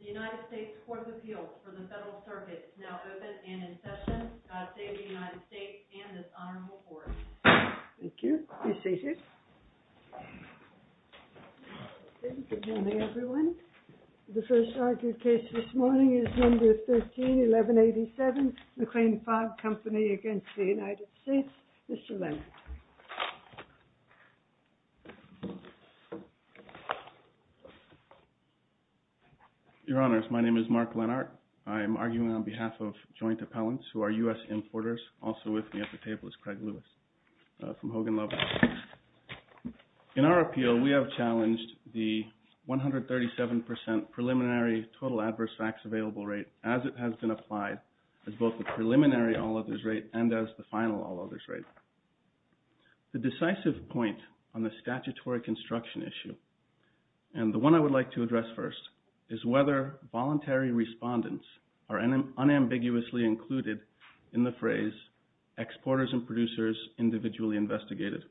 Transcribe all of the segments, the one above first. THE UNITED STATES COURT OF APPEAL FOR THE FEDERAL CIRCUIT IS NOW OPEN AND IN SESSION. GOD SAVE THE UNITED STATES AND THIS HONORABLE COURT. Thank you. Be seated. Good morning, everyone. The first argued case this morning is number 13-1187, McLean-Fogg Company v. United States. Mr. Leonard. Your Honors, my name is Mark Leonard. I am arguing on behalf of joint appellants who are U.S. importers. Also with me at the table is Craig Lewis from Hogan-Lovett. In our appeal, we have challenged the 137 percent preliminary total adverse facts available rate as it has been applied, as both the preliminary all-others rate and as the final all-others rate. The decisive point on the statutory construction issue, and the one I would like to address first, is whether voluntary respondents are unambiguously included in the phrase exporters and producers individually investigated.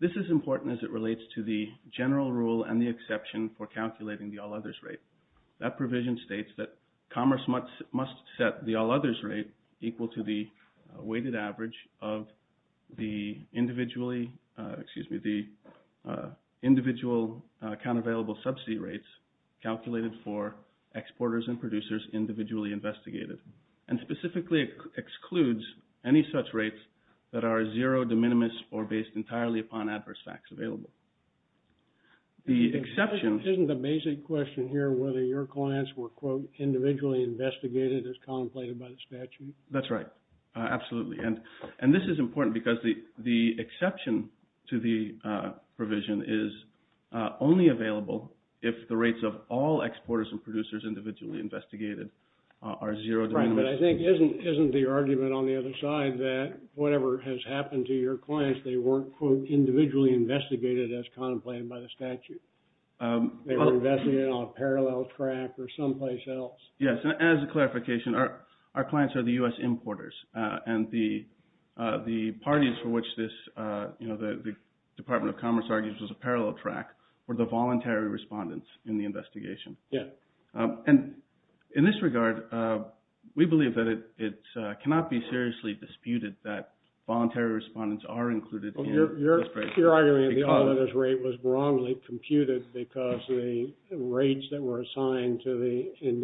This is important as it relates to the general rule and the exception for calculating the all-others rate. That provision states that commerce must set the all-others rate equal to the weighted average of the individual account available subsidy rates calculated for exporters and producers individually investigated, and specifically excludes any such rates that are zero, de minimis, or based entirely upon adverse facts available. The exception... Isn't the basic question here whether your clients were, quote, individually investigated as contemplated by the statute? That's right. Absolutely. And this is important because the exception to the provision is only available if the rates of all exporters and producers individually investigated are zero, de minimis. But I think, isn't the argument on the other side that whatever has happened to your clients, they weren't, quote, individually investigated as contemplated by the statute? They were investigated on a parallel track or someplace else. Yes, and as a clarification, our clients are the U.S. importers, and the parties for which this, you know, the Department of Commerce argues was a parallel track were the voluntary respondents in the investigation. Yeah. And in this regard, we believe that it cannot be seriously disputed that voluntary respondents are included in... Well, you're arguing that this rate was wrongly computed because the rates that were assigned to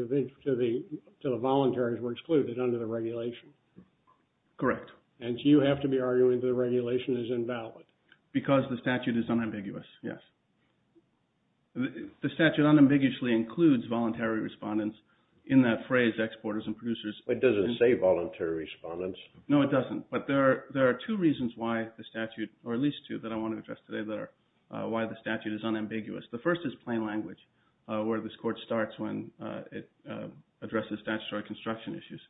the volunteers were excluded under the regulation. Correct. And you have to be arguing that the regulation is invalid. Because the statute is unambiguous, yes. The statute unambiguously includes voluntary respondents in that phrase, exporters and producers. It doesn't say voluntary respondents. No, it doesn't. But there are two reasons why the statute, or at least two that I want to address today, why the statute is unambiguous. The first is plain language, where this court starts when it addresses statutory construction issues.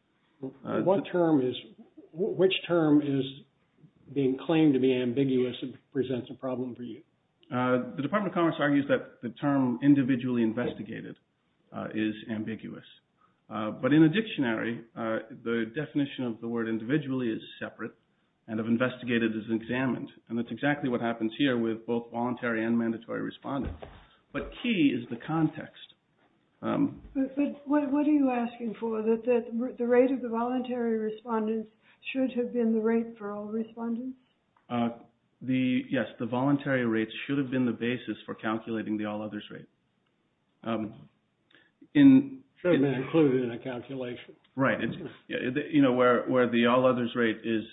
Which term is being claimed to be ambiguous and presents a problem for you? The Department of Commerce argues that the term individually investigated is ambiguous. But in a dictionary, the definition of the word individually is separate and of investigated as examined. And that's exactly what happens here with both voluntary and mandatory respondents. But key is the context. But what are you asking for, that the rate of the voluntary respondents should have been the rate for all respondents? Yes, the voluntary rates should have been the basis for calculating the all-others rate. Should have been included in a calculation. Right. You know, where the all-others rate is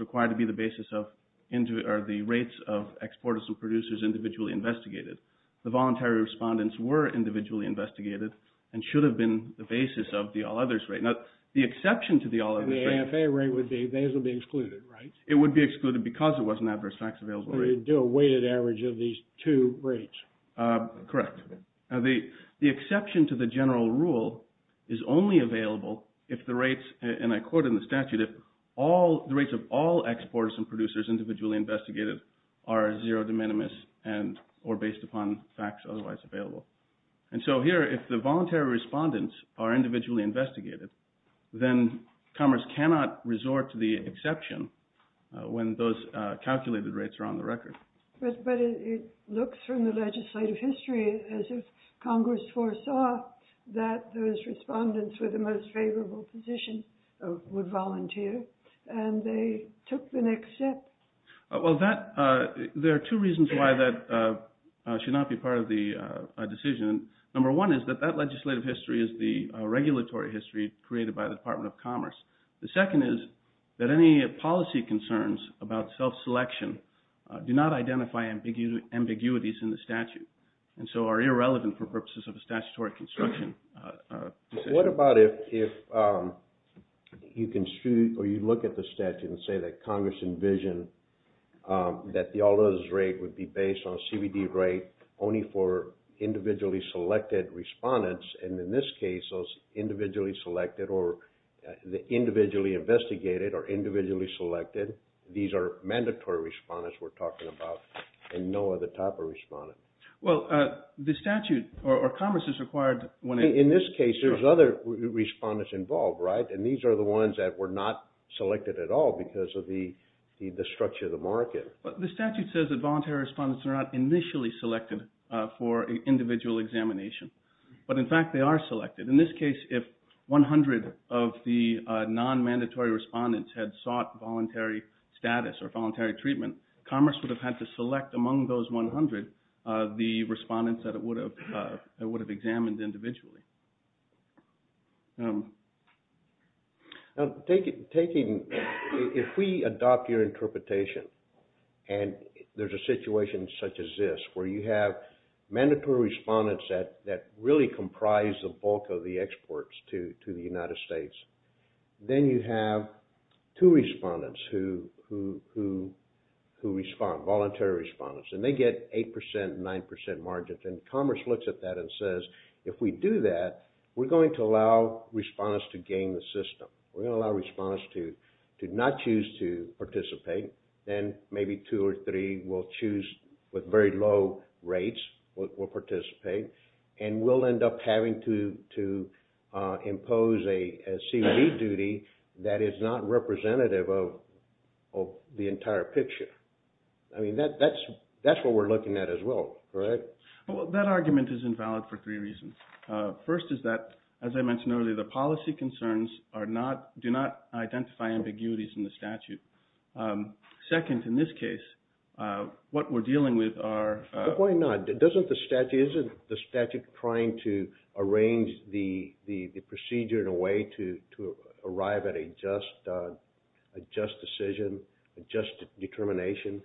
required to be the basis of the rates of exporters and producers individually investigated. The voluntary respondents were individually investigated and should have been the basis of the all-others rate. Now, the exception to the all-others rate... And the AFA rate would be, those would be excluded, right? It would be excluded because it was an adverse tax available rate. So you'd do a weighted average of these two rates. Correct. Now, the exception to the general rule is only available if the rates, and I quote in the statute, if the rates of all exporters and producers individually investigated are zero de minimis or based upon facts otherwise available. And so here, if the voluntary respondents are individually investigated, then Commerce cannot resort to the exception when those calculated rates are on the record. But it looks from the legislative history as if Congress foresaw that those respondents with the most favorable position would volunteer, and they took the next step. Well, there are two reasons why that should not be part of the decision. Number one is that that legislative history is the regulatory history created by the Department of Commerce. The second is that any policy concerns about self-selection do not identify ambiguities in the statute and so are irrelevant for purposes of a statutory construction. What about if you look at the statute and say that Congress envisioned that the all others rate would be based on a CBD rate only for individually selected respondents? And in this case, those individually selected or the individually investigated or individually selected, these are mandatory respondents we're talking about and no other type of respondent. Well, the statute or Commerce is required when… In this case, there's other respondents involved, right? And these are the ones that were not selected at all because of the structure of the market. The statute says that voluntary respondents are not initially selected for individual examination. But in fact, they are selected. In this case, if 100 of the non-mandatory respondents had sought voluntary status or voluntary treatment, Commerce would have had to select among those 100 the respondents that it would have examined individually. Now, if we adopt your interpretation and there's a situation such as this where you have mandatory respondents that really comprise the bulk of the exports to the United States, then you have two respondents who respond, voluntary respondents, and they get 8% and 9% margins. And Commerce looks at that and says, if we do that, we're going to allow respondents to gain the system. We're going to allow respondents to not choose to participate. Then maybe two or three will choose, with very low rates, will participate. And we'll end up having to impose a COD duty that is not representative of the entire picture. I mean, that's what we're looking at as well, correct? Well, that argument is invalid for three reasons. First is that, as I mentioned earlier, the policy concerns do not identify ambiguities in the statute. Second, in this case, what we're dealing with are… But why not? Isn't the statute trying to arrange the procedure in a way to arrive at a just decision, a just determination?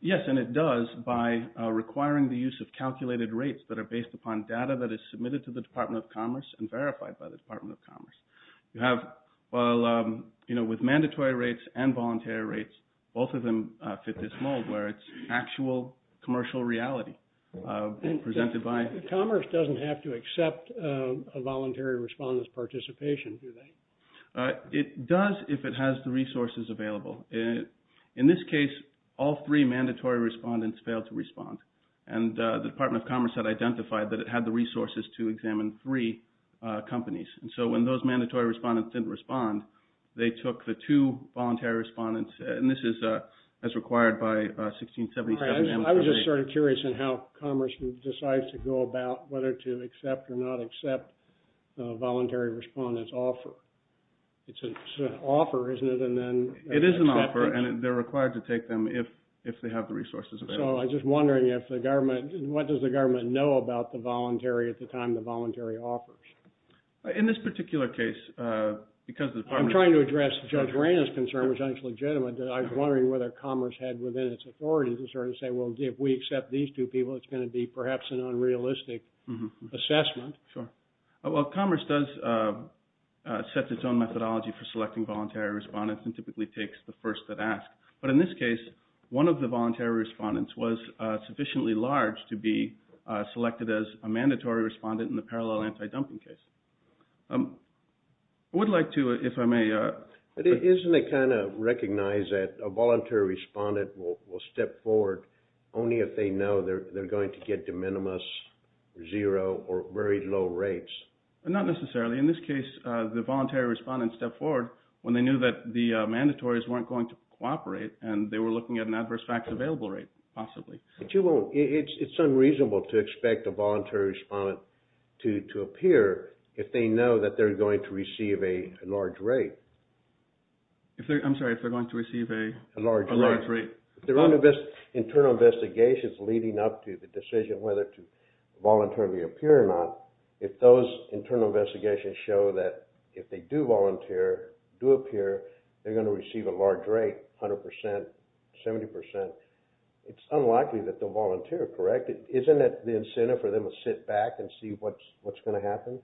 Yes, and it does by requiring the use of calculated rates that are based upon data that is submitted to the Department of Commerce and verified by the Department of Commerce. You have… Well, you know, with mandatory rates and voluntary rates, both of them fit this mold where it's actual commercial reality presented by… Commerce doesn't have to accept a voluntary respondent's participation, do they? It does if it has the resources available. In this case, all three mandatory respondents failed to respond. And the Department of Commerce had identified that it had the resources to examine three companies. And so when those mandatory respondents didn't respond, they took the two voluntary respondents, and this is as required by 1677… I was just sort of curious in how Commerce decides to go about whether to accept or not accept a voluntary respondent's offer. It's an offer, isn't it, and then… It is an offer, and they're required to take them if they have the resources available. So I'm just wondering if the government… What does the government know about the voluntary at the time the voluntary offers? In this particular case, because the Department… I'm trying to address Judge Rayna's concern, which I think is legitimate, that I was wondering whether Commerce had within its authority to sort of say, well, if we accept these two people, it's going to be perhaps an unrealistic assessment. Sure. Well, Commerce does set its own methodology for selecting voluntary respondents and typically takes the first that ask. But in this case, one of the voluntary respondents was sufficiently large to be selected as a mandatory respondent in the parallel anti-dumping case. I would like to, if I may… But isn't it kind of recognized that a voluntary respondent will step forward only if they know they're going to get de minimis, zero, or very low rates? Not necessarily. In this case, the voluntary respondent stepped forward when they knew that the mandatories weren't going to cooperate, and they were looking at an adverse facts available rate, possibly. But you won't… It's unreasonable to expect a voluntary respondent to appear if they know that they're going to receive a large rate. I'm sorry, if they're going to receive a… A large rate. Internal investigations leading up to the decision whether to voluntarily appear or not, if those internal investigations show that if they do volunteer, do appear, they're going to receive a large rate, 100 percent, 70 percent, it's unlikely that they'll volunteer, correct? Isn't it the incentive for them to sit back and see what's going to happen?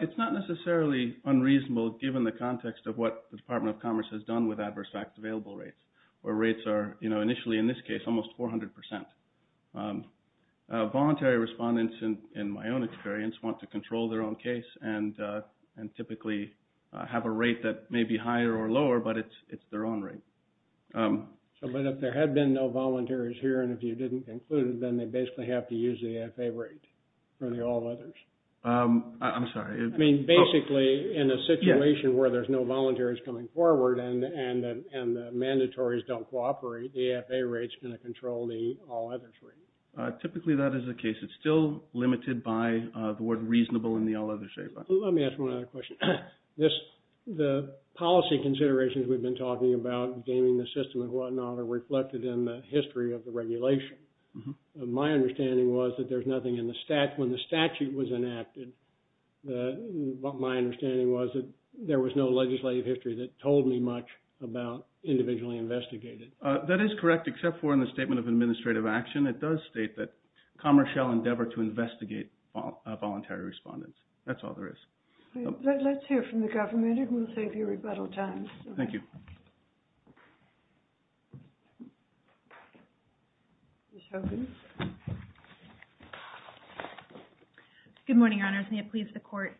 It's not necessarily unreasonable, given the context of what the Department of Commerce has done with adverse facts available rates, where rates are initially, in this case, almost 400 percent. Voluntary respondents, in my own experience, want to control their own case and typically have a rate that may be higher or lower, but it's their own rate. But if there had been no volunteers here, and if you didn't include it, then they basically have to use the AFA rate for the all others. I'm sorry. I mean, basically, in a situation where there's no volunteers coming forward and the mandatories don't cooperate, the AFA rate's going to control the all others rate. Typically, that is the case. It's still limited by the word reasonable in the all others statement. Let me ask one other question. The policy considerations we've been talking about, gaming the system and whatnot, are reflected in the history of the regulation. My understanding was that there's nothing in the statute. When the statute was enacted, my understanding was that there was no legislative history that told me much about individually investigated. That is correct, except for in the Statement of Administrative Action, it does state that commerce shall endeavor to investigate voluntary respondents. That's all there is. Let's hear from the government, and we'll save you rebuttal time. Thank you. Good morning, Your Honors. May it please the Court.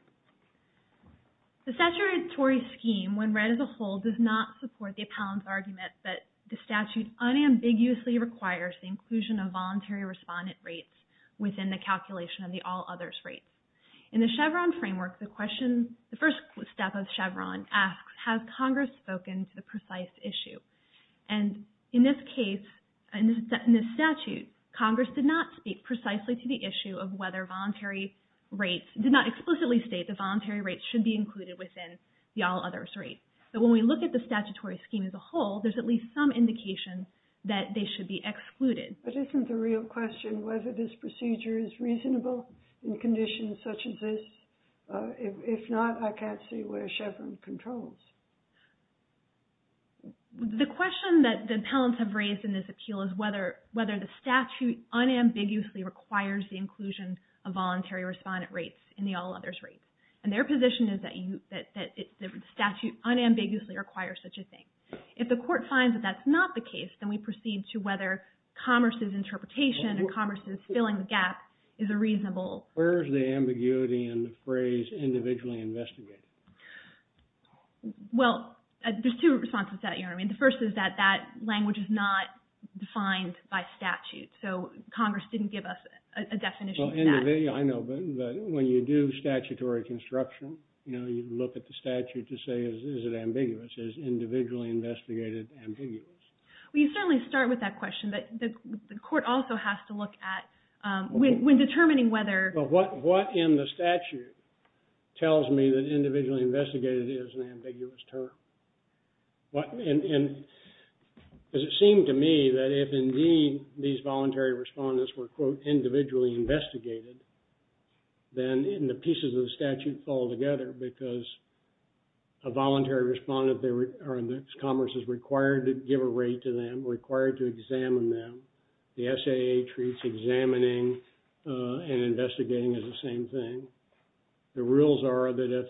The statutory scheme, when read as a whole, does not support the appellant's argument that the statute unambiguously requires the inclusion of voluntary respondent rates within the calculation of the all others rates. In the Chevron framework, the first step of Chevron asks, has Congress spoken to the precise issue? And in this case, in this statute, Congress did not speak precisely to the issue of whether voluntary rates, did not explicitly state that voluntary rates should be included within the all others rate. But when we look at the statutory scheme as a whole, there's at least some indication that they should be excluded. But isn't the real question whether this procedure is reasonable in conditions such as this? If not, I can't see where Chevron controls. The question that the appellants have raised in this appeal is whether the statute unambiguously requires the inclusion of voluntary respondent rates in the all others rates. And their position is that the statute unambiguously requires such a thing. If the court finds that that's not the case, then we proceed to whether Commerce's interpretation and Commerce's filling the gap is a reasonable... Where is the ambiguity in the phrase individually investigated? Well, there's two responses to that, you know what I mean? The first is that that language is not defined by statute. So Congress didn't give us a definition of that. I know, but when you do statutory construction, you know, you look at the statute to say is it ambiguous? Is individually investigated ambiguous? Well, you certainly start with that question, but the court also has to look at when determining whether... But what in the statute tells me that individually investigated is an ambiguous term? And it seemed to me that if indeed these voluntary respondents were, quote, individually investigated, then the pieces of the statute fall together because a voluntary respondent or Commerce is required to give a rate to them, required to examine them. The SAA treats examining and investigating as the same thing. The rules are that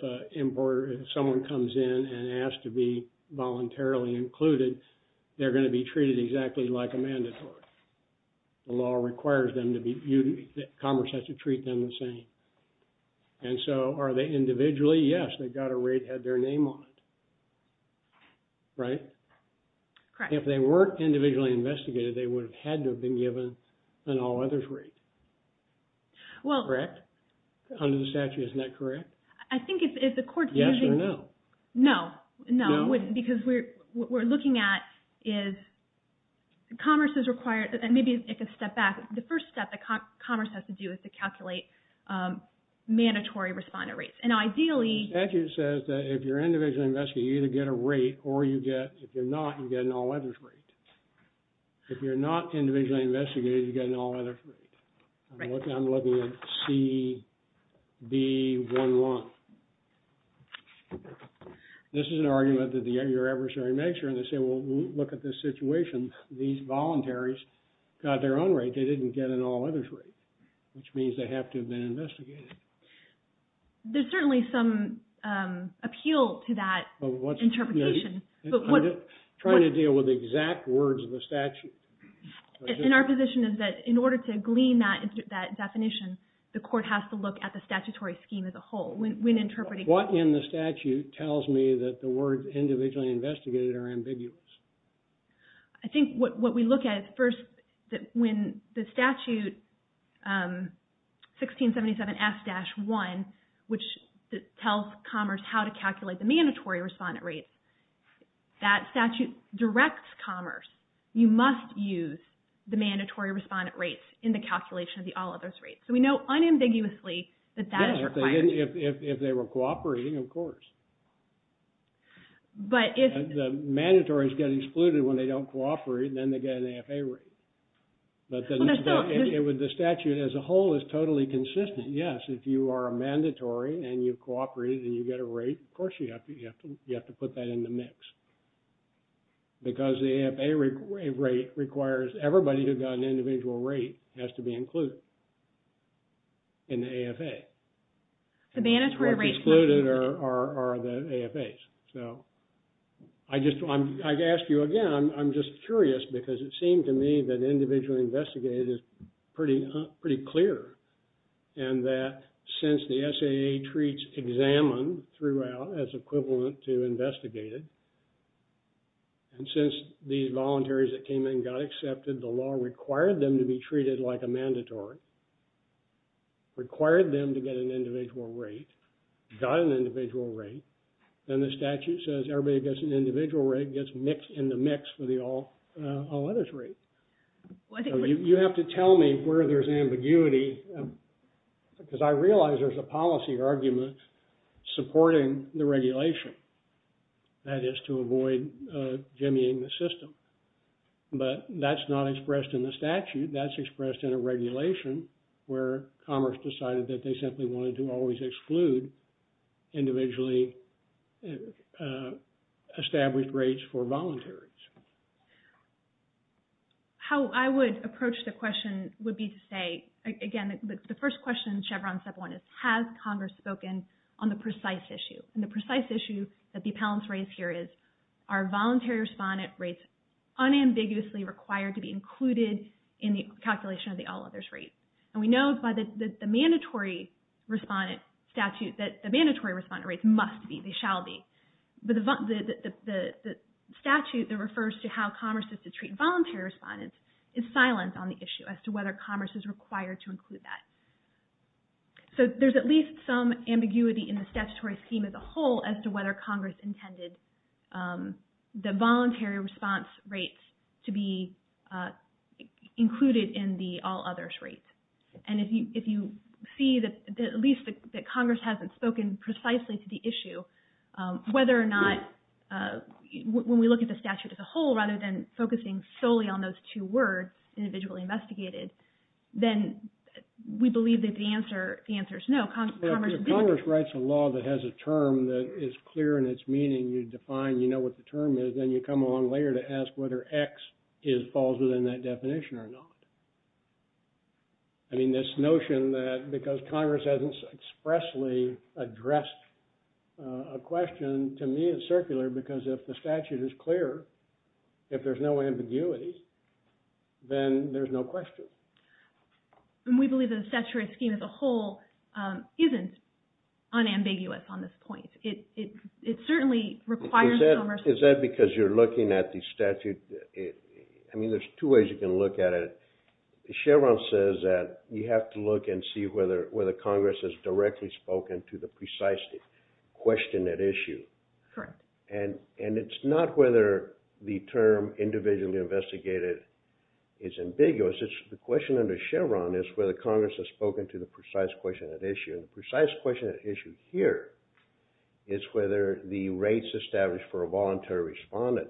if someone comes in and asks to be voluntarily included, they're going to be treated exactly like a mandatory. The law requires them to be... Commerce has to treat them the same. And so are they individually? Yes, they got a rate, had their name on it. Right? If they weren't individually investigated, they would have had to have been given an all others rate. Correct? Under the statute, isn't that correct? I think if the court's using... Yes or no? No, no, because what we're looking at is Commerce is required, and maybe I can step back. The first step that Commerce has to do is to calculate mandatory respondent rates. And ideally... The statute says that if you're individually investigated, you either get a rate or you get... If you're not, you get an all others rate. If you're not individually investigated, you get an all others rate. Right. I'm looking at CB11. This is an argument that your adversary makes here, and they say, well, look at this situation. These volunteers got their own rate. They didn't get an all others rate, which means they have to have been investigated. There's certainly some appeal to that interpretation. I'm trying to deal with exact words of the statute. And our position is that in order to glean that definition, the court has to look at the statutory scheme as a whole. What in the statute tells me that the words individually investigated are ambiguous? I think what we look at first, when the statute 1677F-1, which tells Commerce how to calculate the mandatory respondent rates, that statute directs Commerce, you must use the mandatory respondent rates in the calculation of the all others rates. So we know unambiguously that that is required. Yes, if they were cooperating, of course. But if... The mandatories get excluded when they don't cooperate, and then they get an AFA rate. But the statute as a whole is totally consistent. Yes, if you are a mandatory and you cooperate and you get a rate, of course you have to put that in the mix. Because the AFA rate requires everybody who got an individual rate has to be included in the AFA. The mandatory rates... Excluded are the AFA's. So I just, I ask you again, I'm just curious because it seemed to me that individually investigated is pretty clear. And that since the SAA treats examined throughout as equivalent to investigated, and since these volunteers that came in got accepted, the law required them to be treated like a mandatory, required them to get an individual rate, got an individual rate, then the statute says everybody who gets an individual rate gets mixed in the mix for the all others rate. You have to tell me where there's ambiguity because I realize there's a policy argument supporting the regulation. That is to avoid jimmying the system. But that's not expressed in the statute. That's expressed in a regulation where Commerce decided that they simply wanted to always exclude individually established rates for volunteers. How I would approach the question would be to say, again, the first question Chevron Step 1 is, has Congress spoken on the precise issue? And the precise issue that the appellants raise here is, are voluntary respondent rates unambiguously required to be included in the calculation of the all others rate? And we know by the mandatory respondent statute that the mandatory respondent rates must be, they shall be. But the statute that refers to how Commerce is to treat voluntary respondents is silent on the issue as to whether Commerce is required to include that. So there's at least some ambiguity in the statutory scheme as a whole as to whether Congress intended the voluntary response rates to be included in the all others rate. And if you see at least that Congress hasn't spoken precisely to the issue, whether or not, when we look at the statute as a whole rather than focusing solely on those two words, individually investigated, then we believe that the answer is no. If Congress writes a law that has a term that is clear in its meaning, you define, you know what the term is, then you come along later to ask whether X falls within that definition or not. I mean, this notion that because Congress hasn't expressly addressed a question to me is circular because if the statute is clear, if there's no ambiguity, then there's no question. And we believe that the statutory scheme as a whole isn't unambiguous on this point. Is that because you're looking at the statute? I mean, there's two ways you can look at it. Chevron says that you have to look and see whether Congress has directly spoken to the precise question at issue. Correct. And it's not whether the term individually investigated is ambiguous. The question under Chevron is whether Congress has spoken to the precise question at issue. And the precise question at issue here is whether the rates established for a voluntary respondent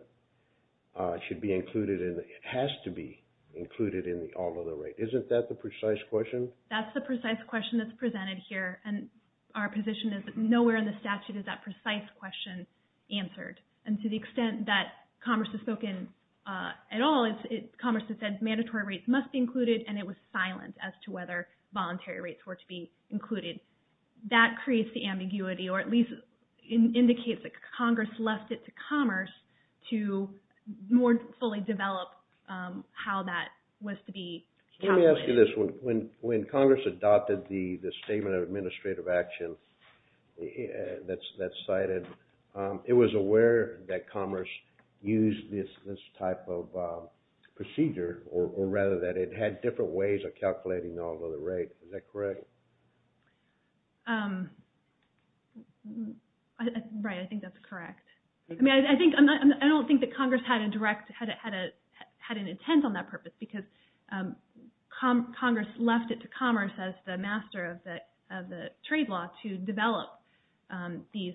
should be included in, it has to be included in the all other rate. Isn't that the precise question? That's the precise question that's presented here. And our position is that nowhere in the statute is that precise question answered. And to the extent that Congress has spoken at all, Congress has said mandatory rates must be included and it was silent as to whether voluntary rates were to be included. That creates the ambiguity or at least indicates that Congress left it to Commerce to more fully develop how that was to be calculated. Let me ask you this. When Congress adopted the Statement of Administrative Action that's cited, it was aware that Commerce used this type of procedure or rather that it had different ways of calculating the all other rate. Is that correct? Right, I think that's correct. I don't think that Congress had an intent on that purpose because Congress left it to Commerce as the master of the trade law to develop these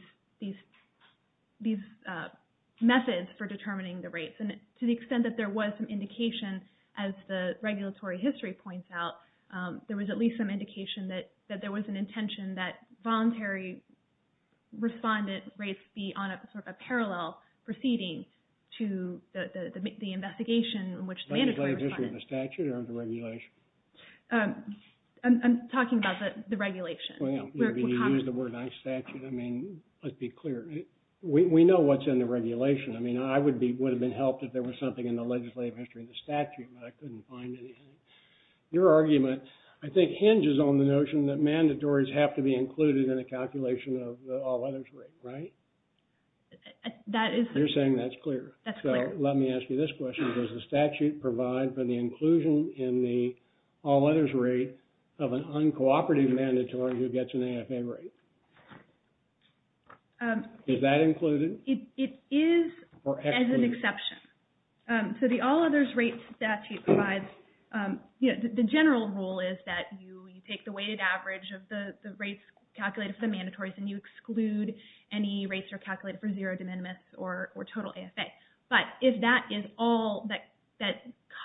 methods for determining the rates. And to the extent that there was an indication as the regulatory history points out, there was at least some indication that there was an intention that voluntary respondent rates be on sort of a parallel proceeding to the investigation in which the mandatory respondent... Legislative history of the statute or of the regulation? I'm talking about the regulation. Well, you used the word non-statute. I mean, let's be clear. We know what's in the regulation. I mean, I would have been helped if there was something in the legislative history of the statute, but I couldn't find anything. Your argument, I think, hinges on the notion that mandatories have to be included in a calculation of the all others rate, right? That is... You're saying that's clear. That's clear. So let me ask you this question. Does the statute provide for the inclusion in the all others rate of an uncooperative mandatory who gets an AFA rate? Is that included? It is as an exception. So the all others rate statute provides... The general rule is that you take the weighted average of the rates calculated for the mandatories and you exclude any rates that are calculated for zero de minimis or total AFA. But if that is all that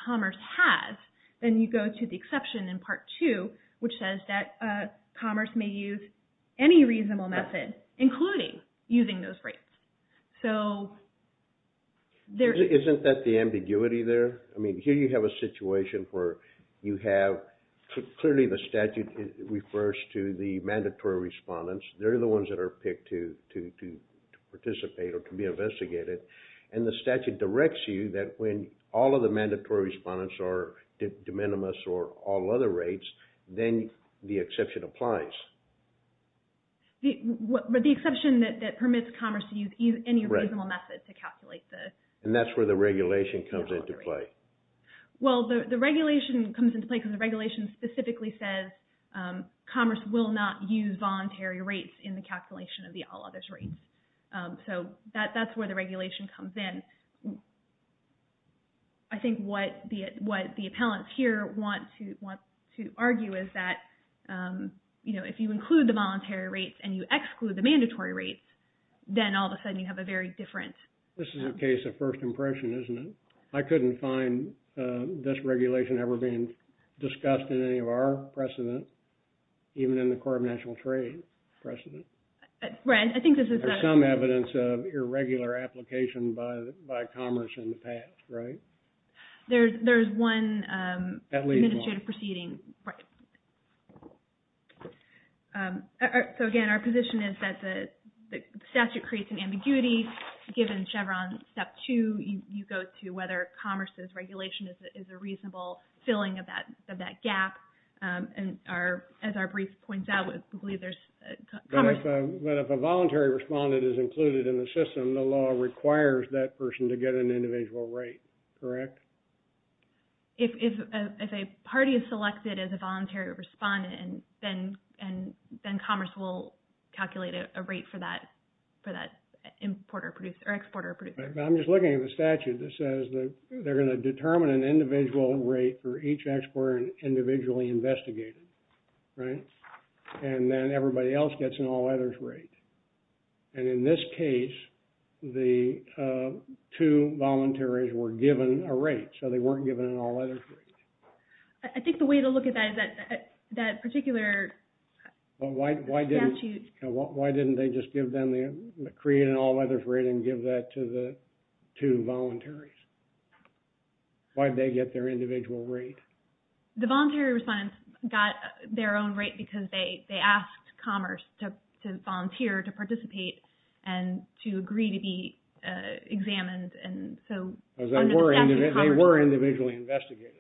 commerce has, then you go to the exception in part two, which says that commerce may use any reasonable method, including using those rates. So there... Isn't that the ambiguity there? I mean, here you have a situation where you have... Clearly the statute refers to the mandatory respondents. They're the ones that are picked to participate or to be investigated. And the statute directs you that when all of the mandatory respondents are de minimis or all other rates, then the exception applies. But the exception that permits commerce to use any reasonable method to calculate the... And that's where the regulation comes into play. Well, the regulation comes into play because the regulation specifically says commerce will not use voluntary rates in the calculation of the all others rates. So that's where the regulation comes in. I think what the appellants here want to argue is that, you know, if you include the voluntary rates and you exclude the mandatory rates, then all of a sudden you have a very different... This is a case of first impression, isn't it? I couldn't find this regulation ever being discussed in any of our precedent, even in the Court of National Trade precedent. I think this is... There's some evidence of irregular application by commerce in the past, right? There's one... Administrative proceeding. Right. So, again, our position is that the statute creates an ambiguity. Given Chevron Step 2, you go to whether commerce's regulation is a reasonable filling of that gap. As our brief points out, we believe there's commerce... But if a voluntary respondent is included in the system, the law requires that person to get an individual rate, correct? If a party is selected as a voluntary respondent, then commerce will calculate a rate for that importer or exporter or producer. I'm just looking at the statute that says that they're going to determine an individual rate for each exporter individually investigated, right? And then everybody else gets an all-others rate. And in this case, the two volunteers were given a rate, so they weren't given an all-others rate. I think the way to look at that is that particular statute... The two volunteers, why did they get their individual rate? The voluntary respondents got their own rate because they asked commerce to volunteer, to participate, and to agree to be examined. They were individually investigated.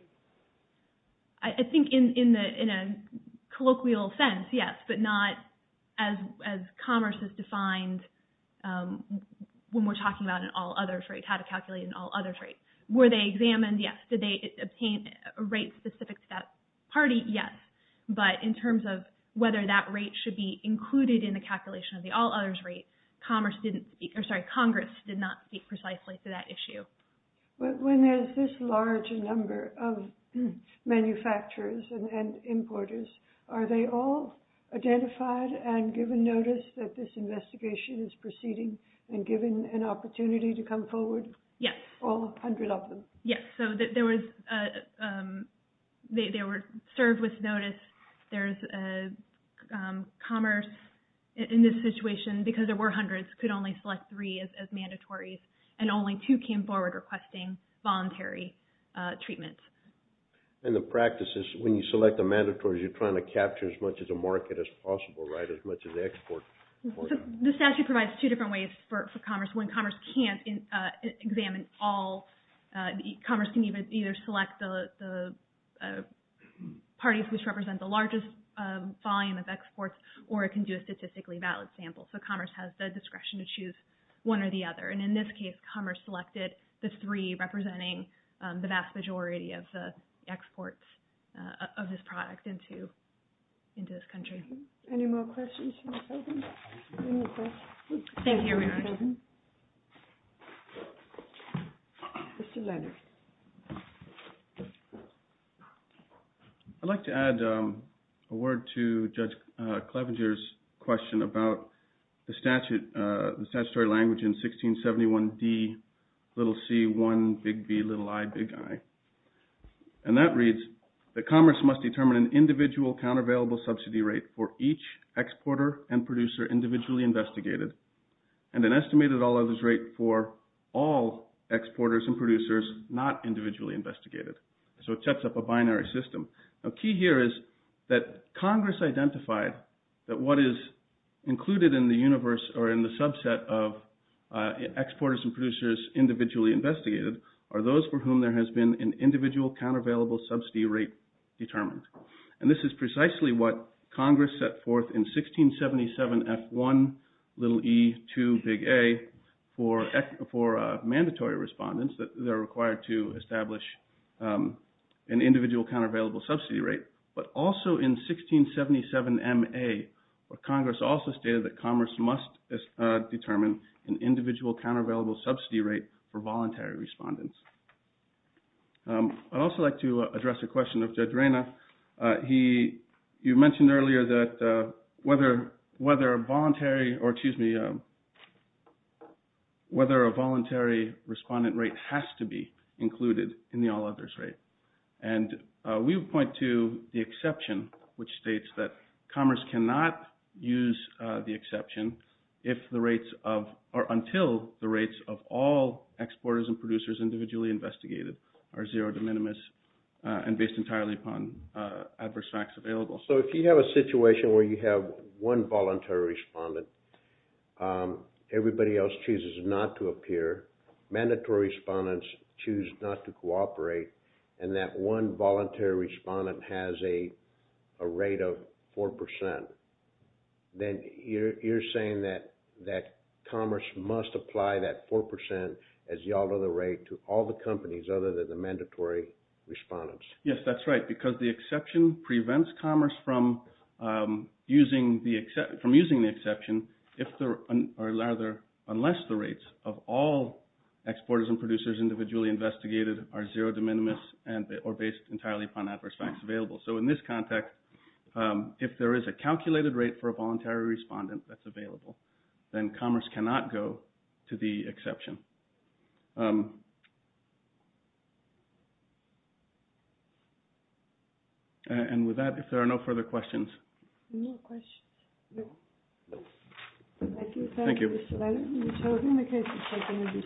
I think in a colloquial sense, yes, but not as commerce has defined when we're talking about an all-others rate, how to calculate an all-others rate. Were they examined? Yes. Did they obtain a rate specific to that party? Yes. But in terms of whether that rate should be included in the calculation of the all-others rate, Congress did not speak precisely to that issue. When there's this large a number of manufacturers and importers, are they all identified and given notice that this investigation is proceeding and given an opportunity to come forward? Yes. All 100 of them? Yes. They were served with notice. Commerce, in this situation, because there were hundreds, could only select three as mandatories, and only two came forward requesting voluntary treatment. And the practice is when you select the mandatories, you're trying to capture as much of the market as possible, right? As much of the export market. The statute provides two different ways for commerce. When commerce can't examine all, commerce can either select the parties which represent the largest volume of exports, or it can do a statistically valid sample. So commerce has the discretion to choose one or the other. And in this case, commerce selected the three representing the vast majority of the exports of this product into this country. Thank you. Any more questions for the President? Any more questions? Thank you, Your Honor. Mr. Leonard. I'd like to add a word to Judge Clevenger's question about the statutory language in 1671D, little c, one, big V, little I, big I. And that reads, that commerce must determine an individual countervailable subsidy rate for each exporter and producer individually investigated, and an estimated all others rate for all exporters and producers not individually investigated. So it sets up a binary system. The key here is that Congress identified that what is included in the universe, or in the subset of exporters and producers individually investigated, are those for whom there has been an individual countervailable subsidy rate determined. And this is precisely what Congress set forth in 1677F1, little e, two, big A, for mandatory respondents that are required to establish an individual countervailable subsidy rate. But also in 1677MA, Congress also stated that commerce must determine an individual countervailable subsidy rate for voluntary respondents. I'd also like to address a question of Judge Reyna. You mentioned earlier that whether a voluntary respondent rate has to be included in the all others rate. And we would point to the exception, which states that commerce cannot use the exception if the rates of, or until the rates of all exporters and producers individually investigated are zero to minimus and based entirely upon adverse facts available. So if you have a situation where you have one voluntary respondent, everybody else chooses not to appear, mandatory respondents choose not to cooperate, and that one voluntary respondent has a rate of 4%, then you're saying that commerce must apply that 4% as the all other rate to all the companies other than the mandatory respondents. Yes, that's right, because the exception prevents commerce from using the exception unless the rates of all exporters and producers individually investigated are zero to minimus or based entirely upon adverse facts available. So in this context, if there is a calculated rate for a voluntary respondent that's available, then commerce cannot go to the exception. And with that, if there are no further questions. No questions. Thank you. Thank you. Thank you.